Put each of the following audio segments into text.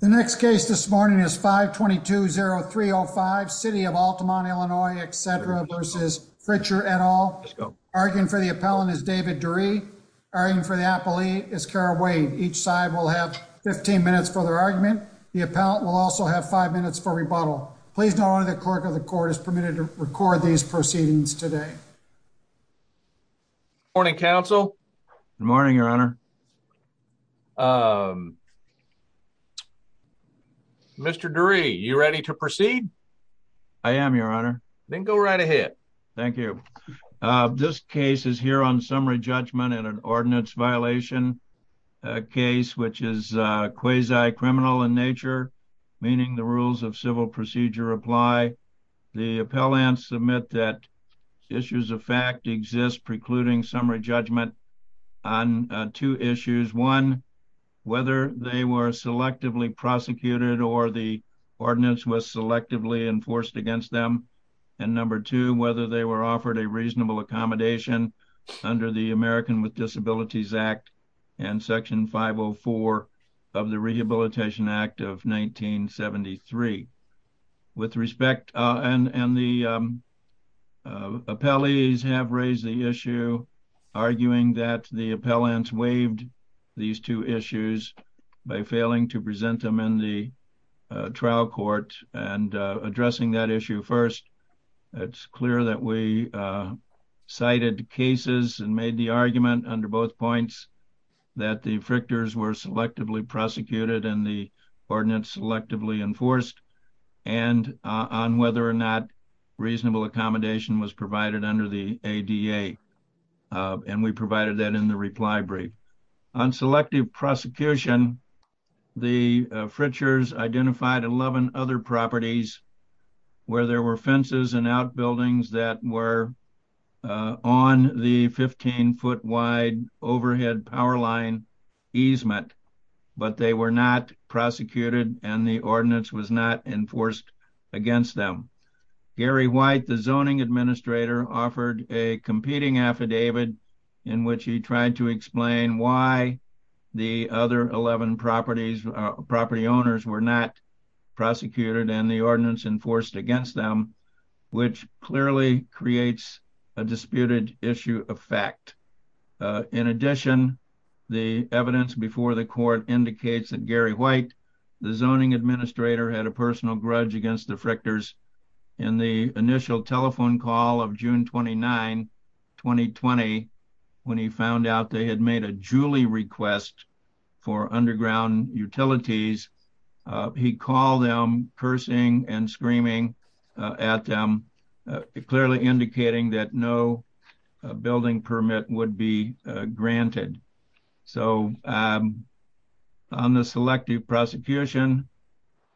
The next case this morning is 522-0305, City of Altamont, Illinois, etc. v. Fritcher et al. Arguing for the appellant is David Durie. Arguing for the appellee is Kara Wade. Each side will have 15 minutes for their argument. The appellant will also have five minutes for rebuttal. Please know only the clerk of the court is permitted to record these proceedings today. Good morning, counsel. Good morning, your honor. Mr. Durie, you ready to proceed? I am, your honor. Then go right ahead. Thank you. This case is here on summary judgment and an ordinance violation case, which is quasi criminal in the rules of civil procedure apply. The appellants submit that issues of fact exist precluding summary judgment on two issues. One, whether they were selectively prosecuted or the ordinance was selectively enforced against them. And number two, whether they were offered a reasonable accommodation under the American with Disabilities Act and Section 504 of the Rehabilitation Act of 1973. With respect, and the appellees have raised the issue, arguing that the appellants waived these two issues by failing to present them in the trial court and addressing that issue first. It's clear that we cited cases and made the argument under both points that the frictors were selectively prosecuted and the ordinance selectively enforced and on whether or not reasonable accommodation was provided under the ADA. And we provided that in the reply brief. On selective prosecution, the frictors identified 11 other properties where there were fences and outbuildings that were on the 15-foot wide overhead power line easement, but they were not prosecuted and the ordinance was not enforced against them. Gary White, the zoning administrator, offered a competing affidavit in which he tried to explain why the other 11 property owners were not prosecuted and the ordinance enforced against them, which clearly creates a disputed issue of fact. In addition, the evidence before the court indicates that Gary White, the zoning administrator, had a personal grudge against the frictors in the initial telephone call of June 29, 2020, when he found out they had made a Julie request for underground utilities. He called them cursing and screaming at them, clearly indicating that no building permit would be granted. So on the selective prosecution,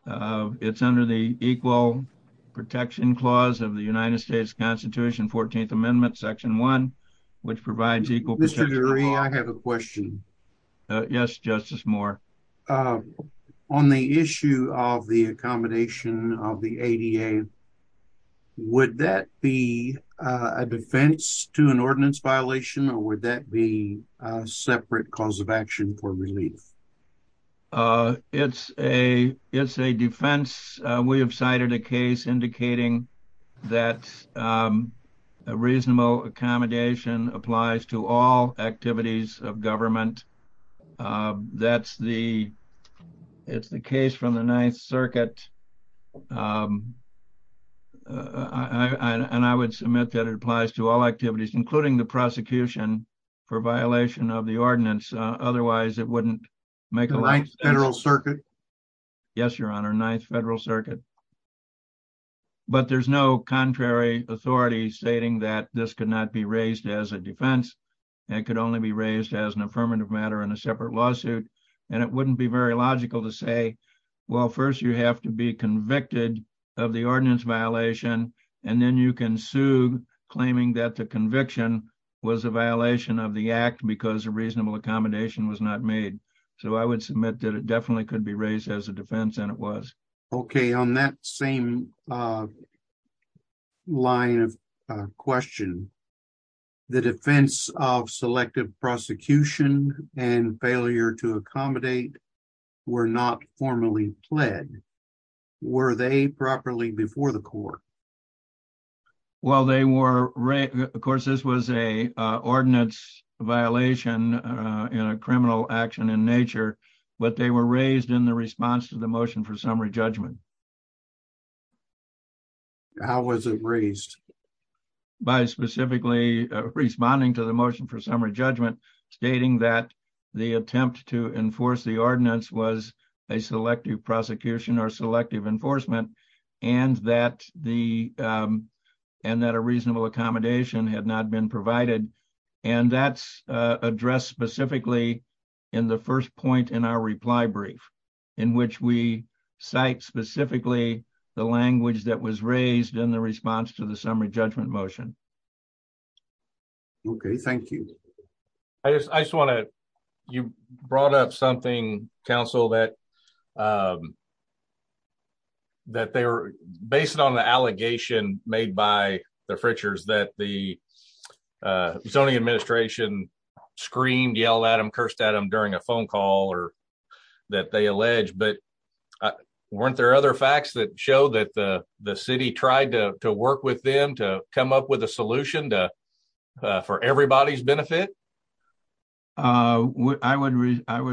it's under the equal protection clause of the United States Constitution, 14th Amendment, section 1, which provides equal protection. Mr. Durie, I have a question. Yes, Justice Moore. On the issue of the accommodation of the ADA, would that be a defense to an ordinance violation or would that be a separate cause of action for relief? It's a defense. We have cited a case indicating that a reasonable accommodation applies to all activities of government. It's the case from the Ninth Circuit and I would submit that it applies to all activities, including the prosecution, for violation of the ordinance. Otherwise, it wouldn't make a right Federal Circuit. Yes, Your Honor, Ninth Federal Circuit. But there's no contrary authority stating that this could not be raised as a defense. It could only be raised as an affirmative matter in a separate lawsuit. And it wouldn't be very logical to say, well, first you have to be was a violation of the act because a reasonable accommodation was not made. So I would submit that it definitely could be raised as a defense and it was. Okay. On that same line of question, the defense of selective prosecution and failure to accommodate were not formally pled. Were they properly before the court? Well, they were. Of course, this was a ordinance violation in a criminal action in nature, but they were raised in the response to the motion for summary judgment. How was it raised? By specifically responding to the motion for summary judgment, stating that the attempt to enforce the ordinance was a selective prosecution or selective enforcement and that a reasonable accommodation had not been provided. And that's addressed specifically in the first point in our reply brief, in which we cite specifically the language that was raised in the response to the summary judgment motion. Okay. Thank you. I just want to, you brought up counsel, that they were based on the allegation made by the Fritchers that the zoning administration screamed, yelled at them, cursed at them during a phone call or that they alleged. But weren't there other facts that show that the city tried to work with them to come up with a solution for everybody's benefit? I would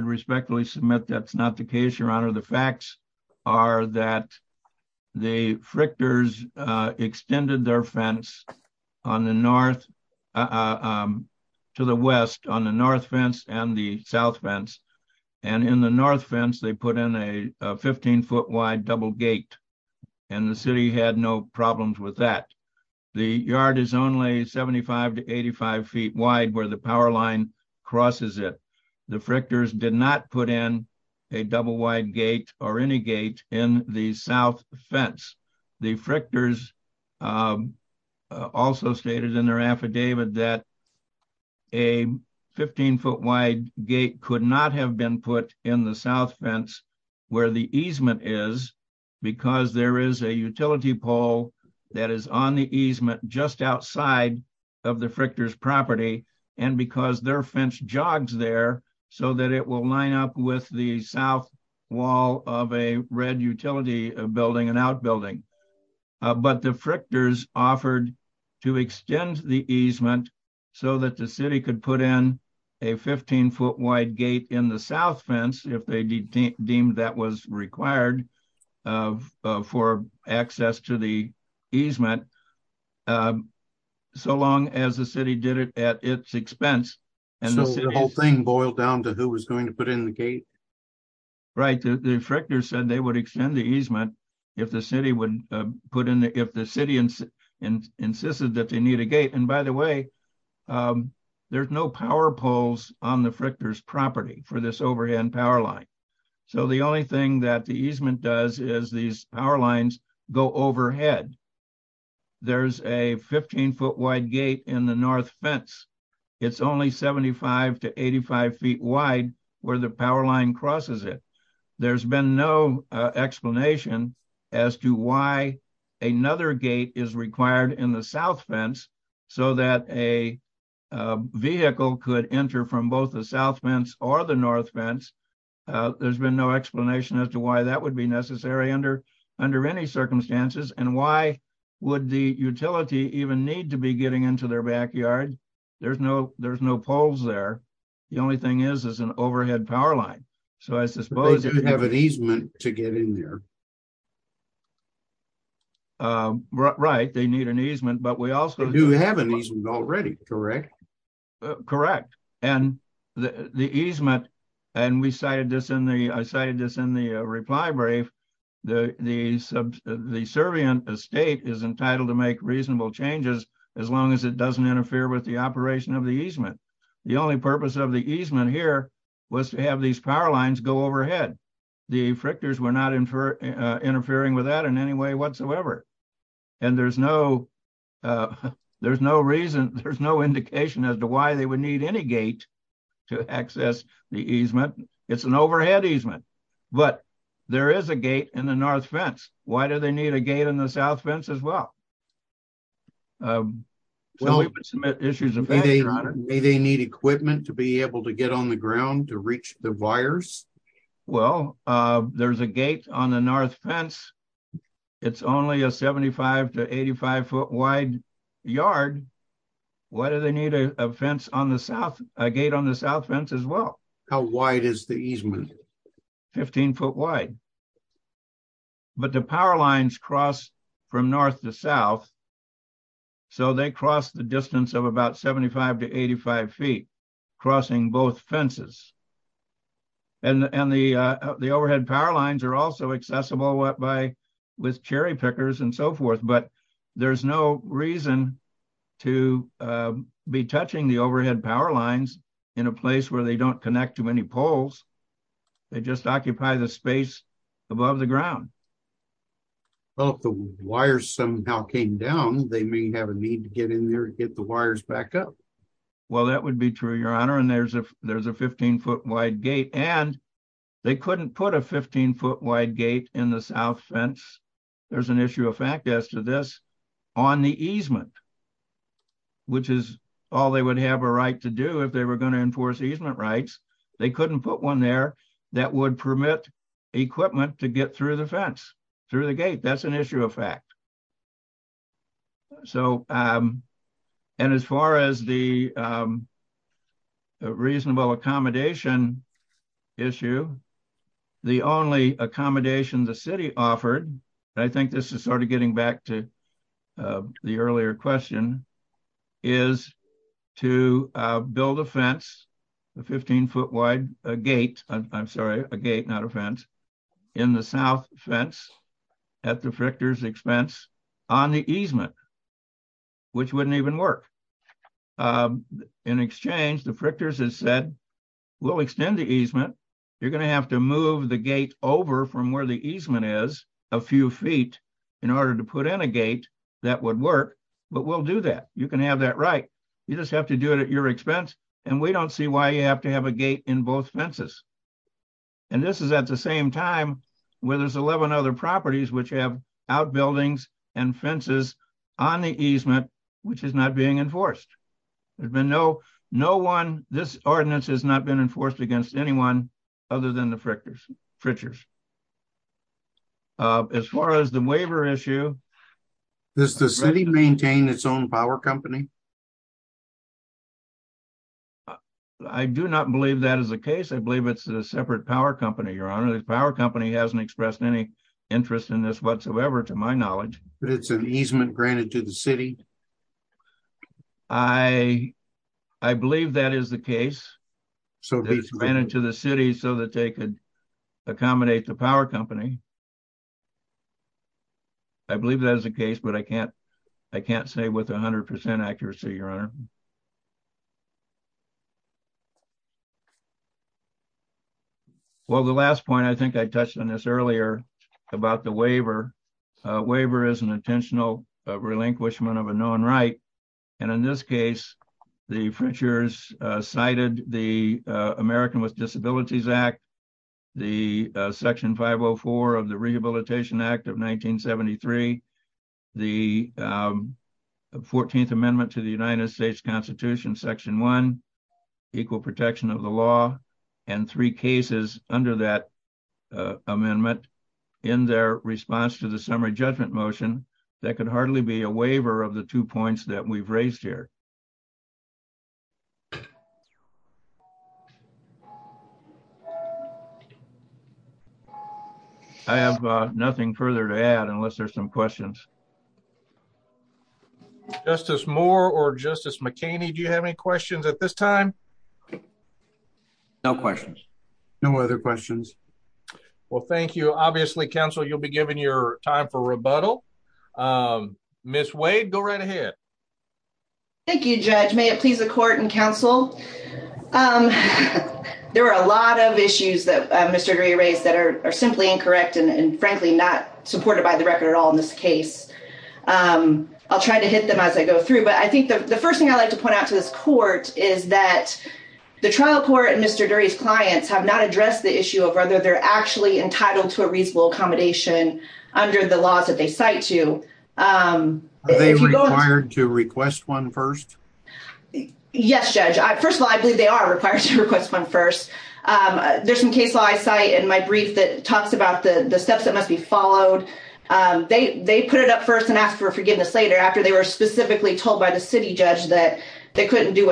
respectfully submit that's not the case, your honor. The facts are that the Fritchers extended their fence to the west on the north fence and the south fence. And in the north fence, they put in a 15-foot-wide double gate, and the city had no problems with that. The yard is only 75 to 85 feet wide where the power line crosses it. The Fritchers did not put in a double-wide gate or any gate in the south fence. The Fritchers also stated in their affidavit that a 15-foot-wide gate could not have been put in the south fence where the easement is because there is a utility pole that is on the easement just outside of the Fritchers' property and because their fence jogs there so that it will line up with the south wall of a red utility building, an outbuilding. But the Fritchers offered to extend the easement so that the city could put a 15-foot-wide gate in the south fence if they deemed that was required for access to the easement, so long as the city did it at its expense. So the whole thing boiled down to who was going to put in the gate? Right. The Fritchers said they would extend the easement if the city insisted that they need a gate. And by the way, there's no power poles on the Fritchers' property for this overhead power line. So the only thing that the easement does is these power lines go overhead. There's a 15-foot-wide gate in the north fence. It's only 75 to 85 feet wide where the line crosses it. There's been no explanation as to why another gate is required in the south fence so that a vehicle could enter from both the south fence or the north fence. There's been no explanation as to why that would be necessary under any circumstances. And why would the utility even need to be getting into their backyard? There's no poles there. The only thing is, an overhead power line. So I suppose... They do have an easement to get in there. Right, they need an easement, but we also... They do have an easement already, correct? Correct. And the easement, and I cited this in the reply brief, the servant estate is entitled to make reasonable changes as long as it doesn't interfere with the operation of the easement. The only purpose of the easement here was to have these power lines go overhead. The frictors were not interfering with that in any way whatsoever. And there's no reason, there's no indication as to why they would need any gate to access the easement. It's an overhead easement. But there is a gate in the north fence. Why do need a gate in the south fence as well? May they need equipment to be able to get on the ground to reach the wires? Well, there's a gate on the north fence. It's only a 75 to 85 foot wide yard. Why do they need a gate on the south fence as well? How wide is the easement? 15 foot wide. But the power lines cross from north to south, so they cross the distance of about 75 to 85 feet, crossing both fences. And the overhead power lines are also accessible with cherry pickers and so forth, but there's no reason to be touching the overhead power lines in a place where they don't connect too many poles. They just occupy the space above the ground. Well, if the wires somehow came down, they may have a need to get in there and get the wires back up. Well, that would be true, Your Honor. And there's a 15 foot wide gate. And they couldn't put a 15 foot wide gate in the south fence. There's an issue of fact as to this on the easement, which is all they would have a right to do if they were going to enforce easement rights. They couldn't put one there that would permit equipment to get through the fence, through the gate. That's an issue of fact. And as far as the reasonable accommodation issue, the only accommodation the city offered, and I think this is sort of getting back to the earlier question, is to build a fence, a 15 foot wide gate, I'm sorry, a gate, not a fence, in the south fence at the Frictors expense on the easement, which wouldn't even work. In exchange, the Frictors has said, we'll extend the easement. You're going to have to move the gate over from where the easement is a few feet in order to put in a gate that would work. But we'll do that. You can have that right. You just have to do it at your expense. And we don't see why you have to have a gate in both fences. And this is at the same time where there's 11 other properties which have outbuildings and fences on the easement, which is not being enforced. There's been no one, this ordinance has not been enforced against anyone other than the Frictors. As far as the waiver issue. Does the city maintain its own power company? I do not believe that is the case. I believe it's a separate power company, your honor. The power company hasn't expressed any interest in this whatsoever, to my knowledge. I believe that is the case. So they ran into the city so that they could accommodate the power company. I believe that is the case, but I can't say with 100% accuracy, your honor. Well, the last point, I think I touched on this earlier about the waiver. Waiver is an relinquishment of a known right. And in this case, the Frictors cited the American with Disabilities Act, the section 504 of the Rehabilitation Act of 1973, the 14th amendment to the United States Constitution, section one, equal protection of the law, and three cases under that amendment. In their response to the summary judgment motion, that could hardly be a waiver of the two points that we've raised here. I have nothing further to add unless there's some questions. Justice Moore or Justice McKinney, do you have any questions at this time? No questions. No other questions. Well, thank you. Obviously, counsel, you'll be given your time for rebuttal. Miss Wade, go right ahead. Thank you, Judge. May it please the court and counsel. There are a lot of issues that Mr. Gray raised that are simply incorrect, and frankly, not supported by the record at all in this case. I'll try to hit them as I go through. But I think the trial court and Mr. Dury's clients have not addressed the issue of whether they're actually entitled to a reasonable accommodation under the laws that they cite to. Are they required to request one first? Yes, Judge. First of all, I believe they are required to request one first. There's some case law I cite in my brief that talks about the steps that must be followed. They put it up first and asked for forgiveness later after they were specifically told by the city judge that they easement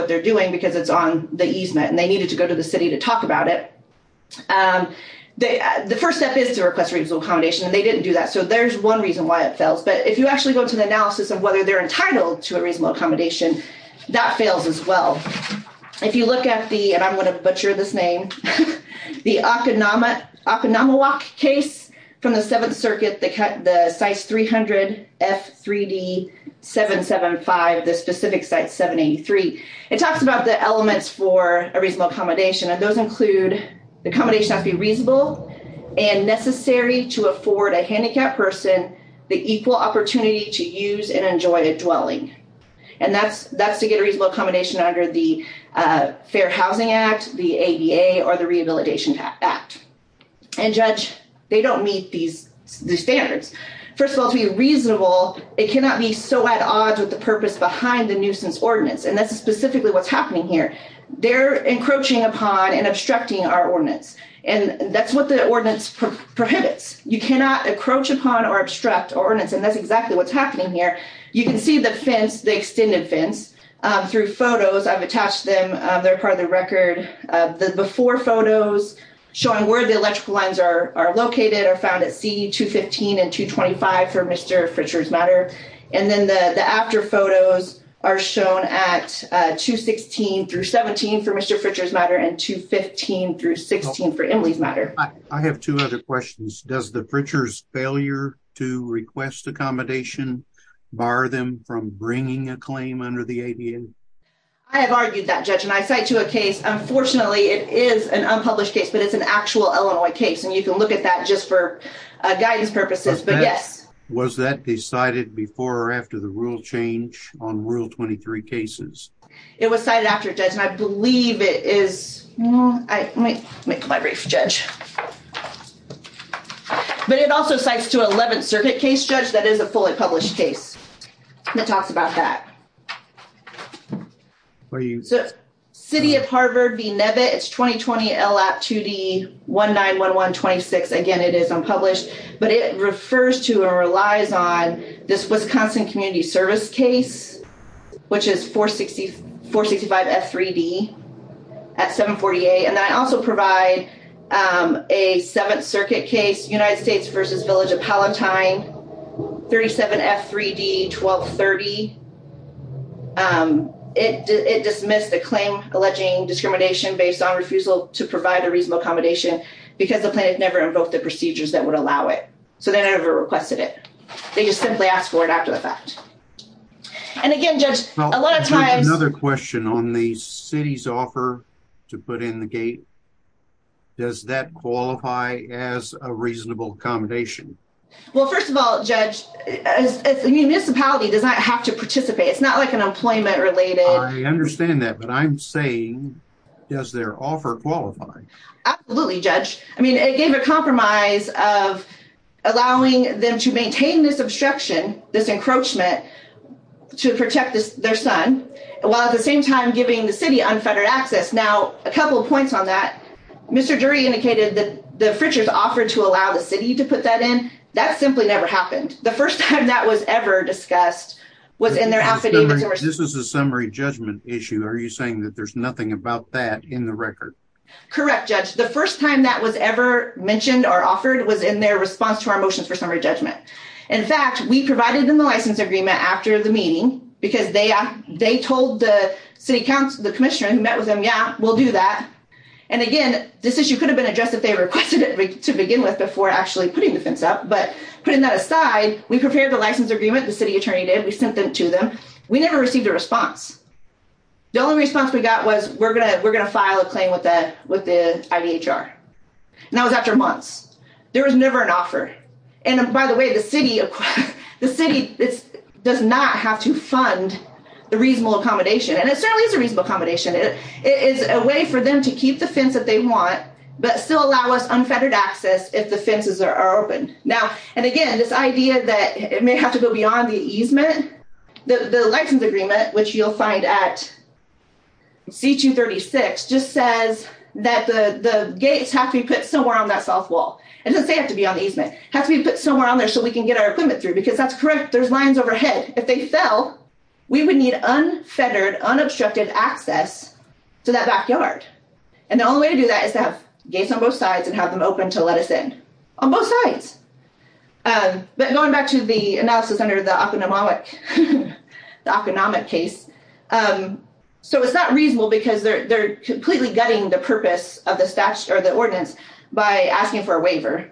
and they needed to go to the city to talk about it. The first step is to request reasonable accommodation, and they didn't do that. So there's one reason why it fails. But if you actually go to the analysis of whether they're entitled to a reasonable accommodation, that fails as well. If you look at the, and I'm going to butcher this name, the Okinawa case from the Seventh Circuit, the CICE 300 F3D 775, the specific site 783, it talks about the elements for a reasonable accommodation, and those include the accommodation has to be reasonable and necessary to afford a handicapped person the equal opportunity to use and enjoy a dwelling. And that's to get a reasonable accommodation under the Fair Housing Act, the ADA, or the Rehabilitation Act. And Judge, they don't meet these standards. First of all, to be reasonable, it cannot be so at odds with purpose behind the nuisance ordinance. And that's specifically what's happening here. They're encroaching upon and obstructing our ordinance. And that's what the ordinance prohibits. You cannot encroach upon or obstruct ordinance. And that's exactly what's happening here. You can see the fence, the extended fence through photos. I've attached them. They're part of the record. The before photos showing where the electrical lines are located are found at C215 and 225 for Mr. Fritcher's matter. And then the after photos are shown at 216 through 17 for Mr. Fritcher's matter and 215 through 16 for Emily's matter. I have two other questions. Does the Fritcher's failure to request accommodation bar them from bringing a claim under the ADA? I have argued that, Judge, and I cite to a case. Unfortunately, it is an unpublished case, but it's an actual Illinois case. And you can look at that just for guidance purposes, but yes. Was that decided before or after the rule change on Rule 23 cases? It was cited after, Judge, and I believe it is. Let me make my brief, Judge. But it also cites to 11th Circuit case, Judge, that is a fully published case that talks about that. City of Harvard v. Nevitt. It's 2020 LAP 2D 191126. Again, it is unpublished, but it refers to and relies on this Wisconsin Community Service case, which is 465 F3D at 748. And I also provide a 7th Circuit case, United States v. Village of Palatine, 37 F3D 1230. It dismissed the claim alleging discrimination based on refusal to provide a reasonable accommodation because the plaintiff never invoked the procedures that would allow it. So they never requested it. They just simply asked for it after the fact. And again, Judge, a lot of times... Another question on the city's offer to put in the gate. Does that qualify as a reasonable accommodation? Well, first of all, Judge, a municipality does not have to participate. It's not like an employment-related... I understand that, but I'm saying, does their offer qualify? Absolutely, Judge. I mean, it gave a compromise of allowing them to maintain this obstruction, this encroachment, to protect their son, while at the same time giving the city unfettered access. Now, a couple of points on that. Mr. Drury indicated that the Fritcher's offered to allow the city to put that in. That simply never happened. The first time that was ever discussed was in their affidavit. This is a summary judgment issue. Are you saying that there's nothing about that in the record? Correct, Judge. The first time that was ever mentioned or offered was in their response to our motions for summary judgment. In fact, we provided them the license agreement after the because they told the city council, the commissioner who met with them, yeah, we'll do that. And again, this issue could have been addressed if they requested it to begin with before actually putting the fence up. But putting that aside, we prepared the license agreement, the city attorney did. We sent them to them. We never received a response. The only response we got was we're going to file a claim with the IDHR. And that was after months. There was never an offer. And by the way, the city does not have to fund the reasonable accommodation. And it certainly is a reasonable accommodation. It is a way for them to keep the fence that they want, but still allow us unfettered access if the fences are open. Now, and again, this idea that it may have to go beyond the easement, the license agreement, which you'll find at C-236, just says that the gates have to be put somewhere on that south wall. It doesn't say it has to be on the easement. It has to be put somewhere on there so we can get our equipment through, because that's correct. There's lines overhead. If they fell, we would need unfettered, unobstructed access to that backyard. And the only way to do that is to have gates on both sides and have them open to let us in on both sides. But going back to the analysis under the economic case, so it's not gutting the purpose of the statutes or the ordinance by asking for a waiver,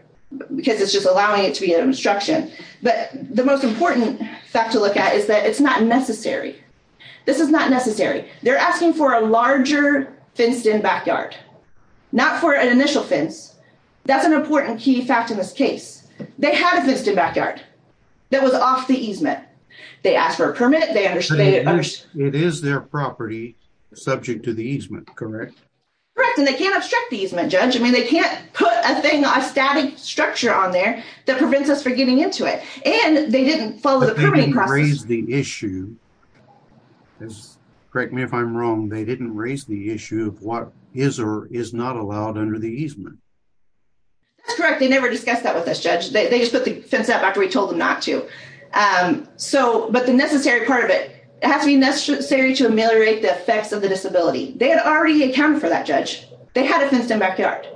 because it's just allowing it to be an obstruction. But the most important fact to look at is that it's not necessary. This is not necessary. They're asking for a larger fenced-in backyard, not for an initial fence. That's an important key fact in this case. They had a fenced-in backyard that was off the easement. They asked for a permit. They understood it. It is their property subject to the easement, correct? Correct. And they can't obstruct the easement, Judge. I mean, they can't put a thing, a static structure on there that prevents us from getting into it. And they didn't follow the permitting process. But they didn't raise the issue. Correct me if I'm wrong. They didn't raise the issue of what is or is not allowed under the easement. That's correct. They never discussed that with us, Judge. They just put the fence up after we told them not to. But the necessary part of it has to be necessary to ameliorate the effects of the disability. They had already accounted for that, Judge. They had a fenced-in backyard.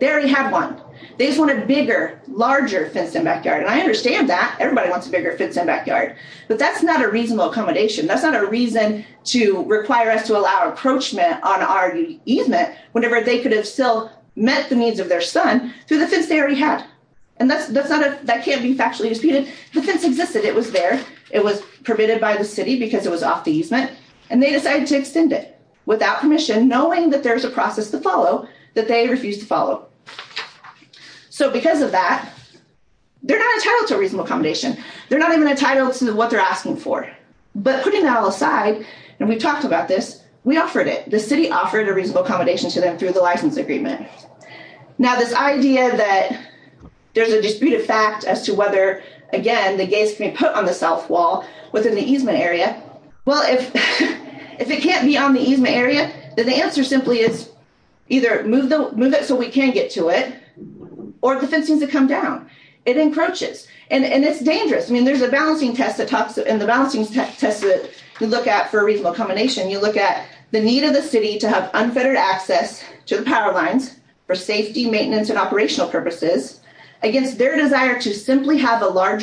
They already had one. They just wanted a bigger, larger fenced-in backyard. And I understand that. Everybody wants a bigger fenced-in backyard. But that's not a reasonable accommodation. That's not a reason to require us to allow approachment on our easement whenever they could have still met the needs of their son through the fence they already had. And that can't be factually disputed. The fence existed. It was there. It was permitted by the city because it was off the easement. And they decided to extend it without permission, knowing that there was a process to follow that they refused to follow. So because of that, they're not entitled to a reasonable accommodation. They're not even entitled to what they're asking for. But putting that all aside, and we've talked about this, we offered it. The city offered a reasonable accommodation to them through the license agreement. Now, this idea that there's a disputed fact as to whether, again, the gates can be put on the south wall within the easement area, well, if it can't be on the easement area, then the answer simply is either move it so we can get to it or the fencing's to come down. It encroaches. And it's dangerous. I mean, there's a balancing test that talks in the balancing test that you look at for a reasonable accommodation. You look at the need of the city to have unfettered access to the power lines for safety, maintenance, and operational purposes against their desire to simply have a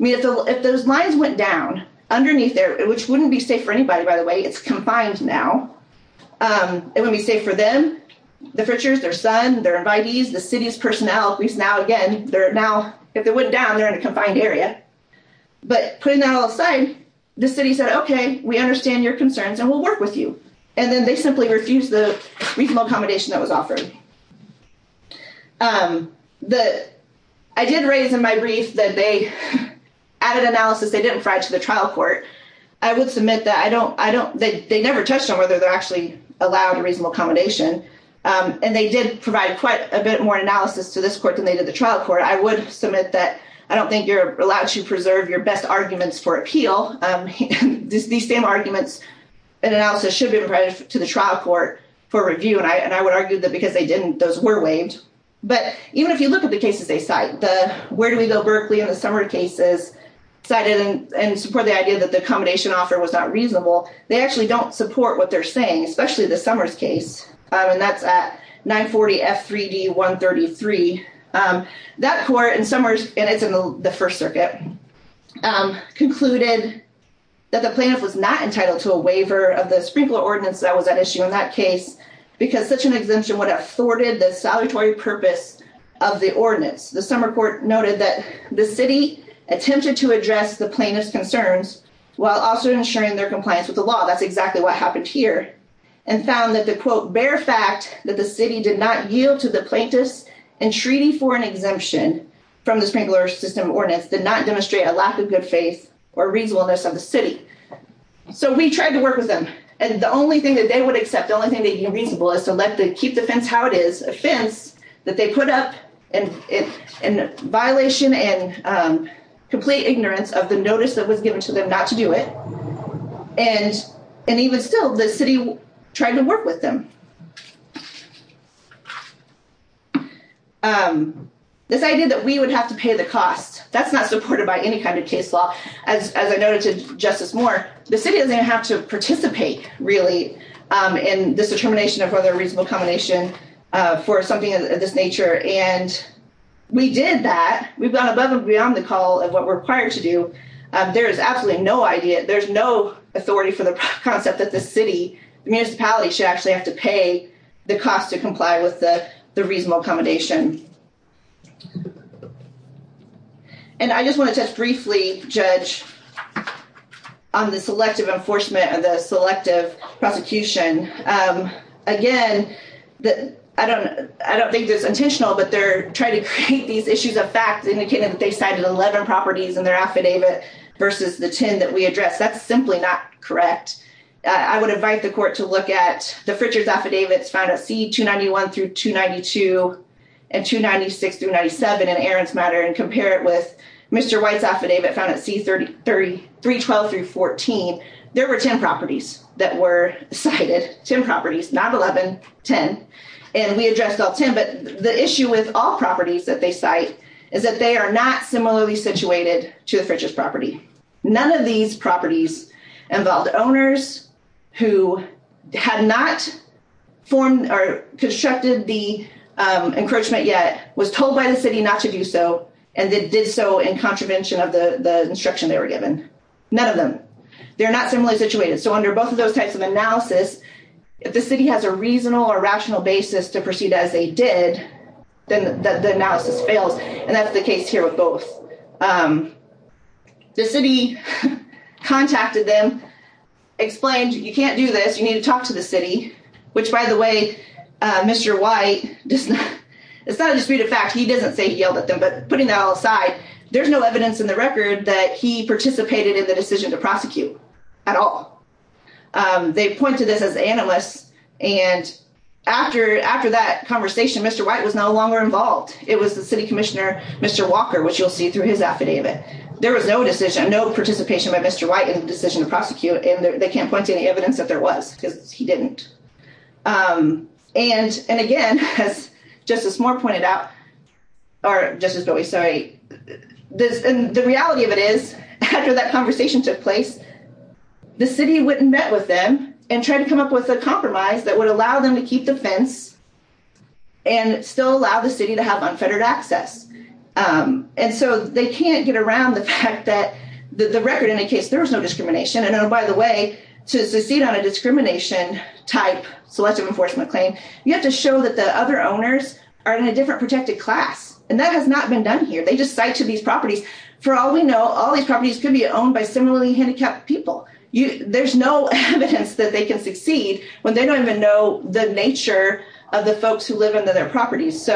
If those lines went down underneath there, which wouldn't be safe for anybody, by the way, it's confined now, it wouldn't be safe for them, the Fritchers, their son, their invitees, the city's personnel, at least now again, they're now, if they went down, they're in a confined area. But putting that all aside, the city said, okay, we understand your concerns, and we'll work with you. And then they simply refused the reasonable accommodation that was added analysis they didn't provide to the trial court. I would submit that I don't, they never touched on whether they're actually allowed a reasonable accommodation. And they did provide quite a bit more analysis to this court than they did the trial court. I would submit that I don't think you're allowed to preserve your best arguments for appeal. These same arguments and analysis should be provided to the trial court for review. And I would argue that because they didn't, those were waived. But even if you look at the cases they Berkeley in the summer cases, cited and support the idea that the accommodation offer was not reasonable, they actually don't support what they're saying, especially the summers case. And that's at 940 F 3d 133. That court in summers, and it's in the First Circuit, concluded that the plaintiff was not entitled to a waiver of the sprinkler ordinance that was at issue in that case, because such an exemption would have thwarted the salutary purpose of the ordinance. The summer court noted that the city attempted to address the plaintiff's concerns while also ensuring their compliance with the law. That's exactly what happened here and found that the quote, bare fact that the city did not yield to the plaintiffs and treaty for an exemption from the sprinkler system ordinance did not demonstrate a lack of good faith or reasonableness of the city. So we tried to work with them. And the only thing that they would be reasonable is to let the keep the fence how it is a fence that they put up and in violation and complete ignorance of the notice that was given to them not to do it. And, and even still the city tried to work with them. This idea that we would have to pay the cost that's not supported by any kind of case law. As I noted to Justice Moore, the city doesn't have to participate, really, in this determination of whether a reasonable combination for something of this nature and we did that we've gone above and beyond the call of what we're required to do. There is absolutely no idea there's no authority for the concept that the city municipality should actually have to pay the cost to comply with the reasonable accommodation. And I just want to just briefly judge on the selective enforcement and the selective prosecution. Again, that I don't, I don't think there's intentional but they're trying to create these issues of fact indicated that they cited 11 properties in their affidavit, versus the 10 that we address that's simply not correct. I would invite the court to look at the Fritch's affidavits found at C-291 through 292 and 296 through 97 and Aaron's matter and compare it with Mr. White's affidavit found at C-312 through 14. There were 10 properties that were cited, 10 properties, not 11, 10. And we addressed all 10 but the issue with all properties that they cite is that they are not similarly situated to the Fritch's property. None of these properties involved owners who had not formed or constructed the encroachment yet was told by the city not to do so. And they did so in contravention of the instruction they were given. None of them. They're not similarly situated. So under both of those types of analysis, if the city has a reasonable or rational basis to proceed as they did, then the analysis fails. And that's the explained, you can't do this. You need to talk to the city, which by the way, Mr. White, it's not a disputed fact. He doesn't say he yelled at them, but putting that all aside, there's no evidence in the record that he participated in the decision to prosecute at all. They pointed this as analysts. And after that conversation, Mr. White was no longer involved. It was the city commissioner, Mr. Walker, which you'll see through his affidavit. There was no decision, no participation by Mr. White in the decision to prosecute. And they can't point to any evidence that there was because he didn't. And again, as Justice Moore pointed out, or Justice Bowie, sorry, the reality of it is after that conversation took place, the city wouldn't met with them and try to come up with a compromise that would allow them to that the record indicates there was no discrimination. And then by the way, to succeed on a discrimination type selective enforcement claim, you have to show that the other owners are in a different protected class. And that has not been done here. They just cite to these properties. For all we know, all these properties could be owned by similarly handicapped people. There's no evidence that they can succeed when they don't even know the nature of the folks who live under their properties.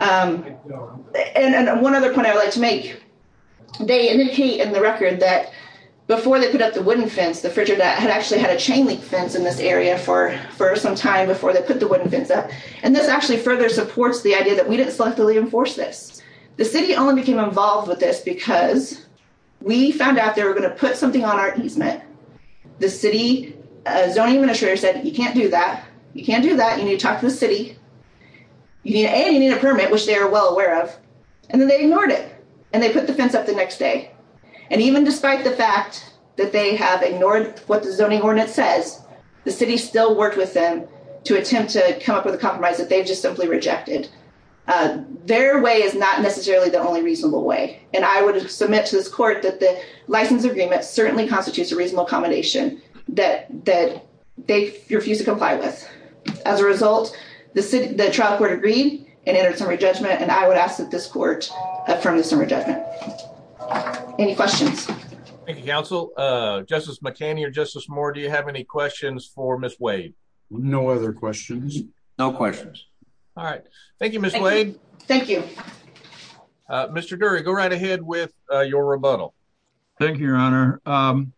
And one other point I would like to make, they indicate in the record that before they put up the wooden fence, the Frigidaire had actually had a chain link fence in this area for some time before they put the wooden fence up. And this actually further supports the idea that we didn't selectively enforce this. The city only became involved with this because we found out they were going to put something on our easement. The city zoning administrator said, you can't do that. You can't do that. You need to talk to the city. And you need a permit, which they are well aware of. And then they ignored it. And they put the fence up the next day. And even despite the fact that they have ignored what the zoning ordinance says, the city still worked with them to attempt to come up with a compromise that they've just simply rejected. Their way is not necessarily the only reasonable way. And I would submit to this court that the license agreement certainly constitutes a reasonable accommodation that they refuse to comply with. As a result, the trial court agreed and entered some re-judgment. And I would ask that this court affirm this re-judgment. Any questions? Thank you, counsel. Justice McCanny or Justice Moore, do you have any questions for Ms. Wade? No other questions. No questions. All right. Thank you, Ms. Wade. Thank you. Mr. Dury, go right ahead with your rebuttal. Thank you, Your Honor. I'm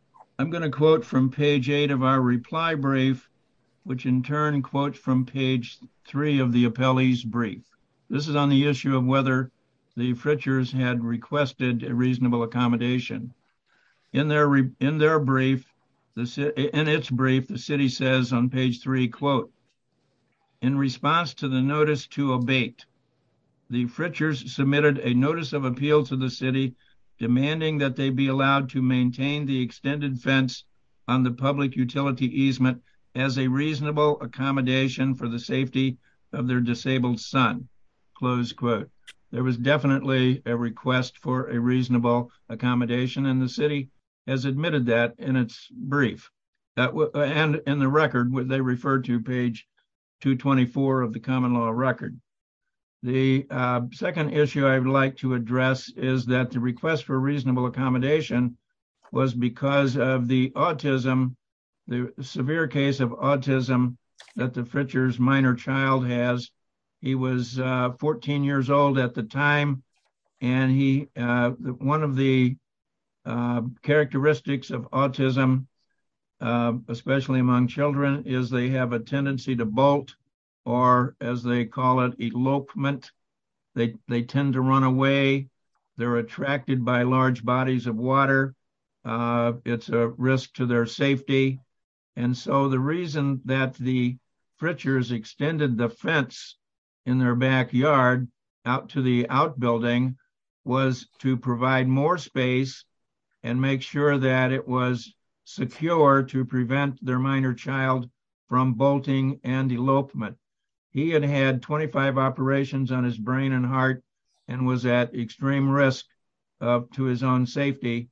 going to quote from page 8 of our reply brief, which in turn quotes from page 3 of the appellee's brief. This is on the issue of whether the Fritchers had requested a reasonable accommodation. In their brief, in its brief, the city says on page 3, quote, in response to the notice to abate, the Fritchers submitted a notice of appeal to the city demanding that they be allowed to maintain the extended fence on the public utility easement as a reasonable accommodation for the safety of their disabled son, close quote. There was definitely a request for a reasonable accommodation, and the city has admitted that in its brief. And in the record, they refer to page 224 of the common law record. The second issue I'd like to address is that the request for reasonable accommodation was because of the autism, the severe case of autism that the Fritchers' minor child has. He was 14 years old at the time, and one of the characteristics of autism, especially among children, is they have a They're attracted by large bodies of water. It's a risk to their safety. And so the reason that the Fritchers extended the fence in their backyard out to the outbuilding was to provide more space and make sure that it was secure to prevent their minor child from bolting and elopement. He had had 25 operations on his brain and heart and was at extreme risk to his own safety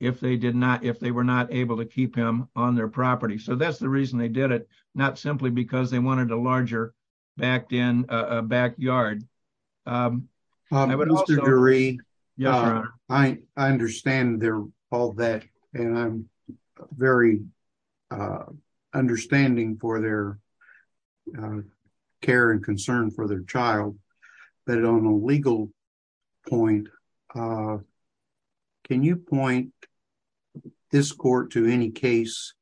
if they were not able to keep him on their property. So that's the reason they did it, not simply because they wanted a larger backyard. I would also agree. I understand all that, and I'm very understanding for their care and concern for their child. But on a legal point, can you point this court to any case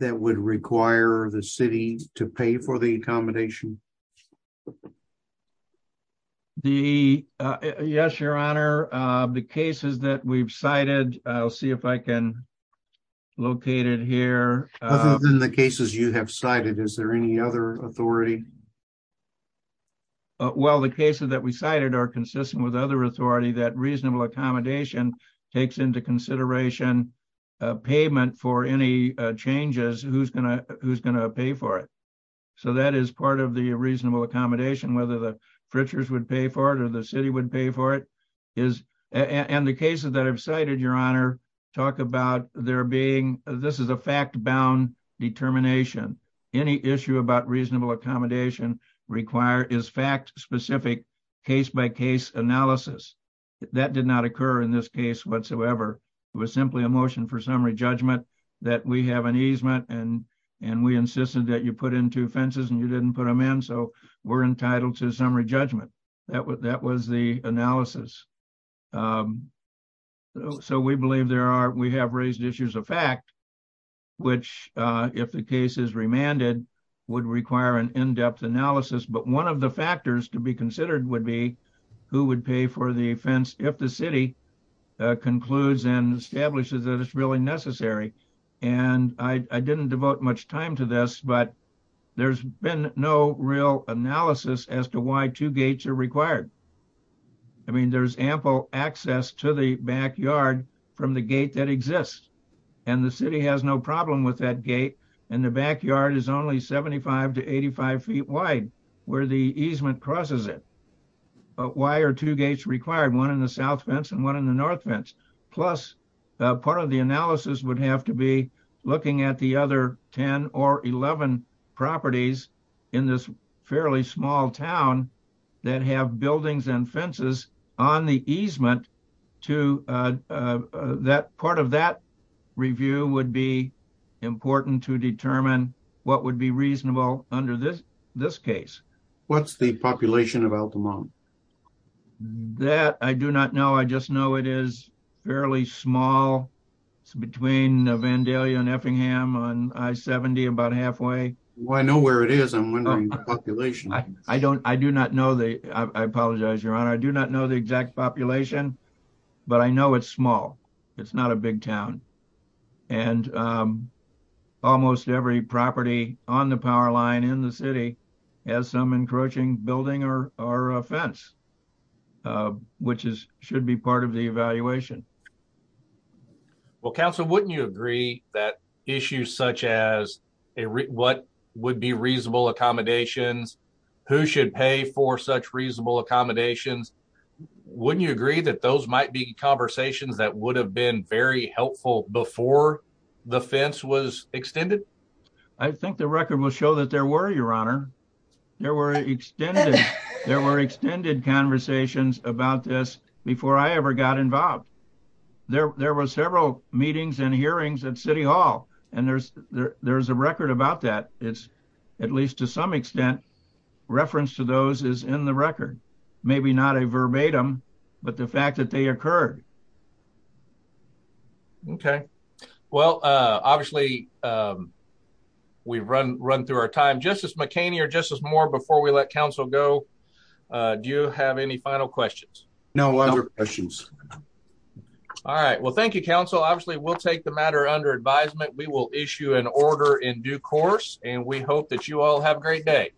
that would require the city to pay for the accommodation? The, yes, your honor, the cases that we've cited, I'll see if I can locate it here. Other than the cases you have cited, is there any other authority? Well, the cases that we cited are consistent with other authority that reasonable accommodation takes into consideration payment for any changes who's going to pay for it. So that is part of the pay for it or the city would pay for it. And the cases that I've cited, your honor, talk about there being, this is a fact-bound determination. Any issue about reasonable accommodation is fact-specific, case-by-case analysis. That did not occur in this case whatsoever. It was simply a motion for summary judgment that we have an easement and we insisted that you put in two fences and you didn't put them in. So we're entitled to summary judgment. That was the analysis. So we believe there are, we have raised issues of fact, which if the case is remanded would require an in-depth analysis. But one of the factors to be considered would be who would pay for the fence if the city concludes and establishes that it's really necessary. And I didn't devote much time to this, but there's been no real analysis as to why two gates are required. I mean, there's ample access to the backyard from the gate that exists and the city has no problem with that gate. And the backyard is only 75 to 85 feet wide where the easement crosses it. But why are two gates required? One in the south fence and one in the north fence. Plus part of the analysis would have to be looking at the other 10 or 11 properties in this fairly small town that have buildings and fences on the easement to that, part of that review would be important to determine what would be reasonable under this case. What's the population of Altamonte? That I do not know. I just know it is fairly small. It's between Vandalia and Effingham on I-70 about halfway. Well, I know where it is. I'm wondering the population. I don't, I do not know the, I apologize, your honor. I do not know the exact population, but I know it's small. It's not a big town. And almost every property on the power line in the city has some encroaching building or a fence, which is, should be part of the evaluation. Well, counsel, wouldn't you agree that issues such as what would be reasonable accommodations, who should pay for such reasonable accommodations, wouldn't you agree that those might be conversations that would have been very helpful before the fence was extended? I think the record will show that there were, your honor. There were extended, there were extended conversations about this before I ever got involved. There, there was several meetings and hearings at city hall, and there's, there's a extent, reference to those is in the record, maybe not a verbatim, but the fact that they occurred. Okay. Well, uh, obviously, um, we've run, run through our time. Justice McCaney or Justice Moore, before we let counsel go, uh, do you have any final questions? No other questions. All right. Well, thank you, counsel. Obviously we'll take the matter under advisement. We will take the matter under adjustment.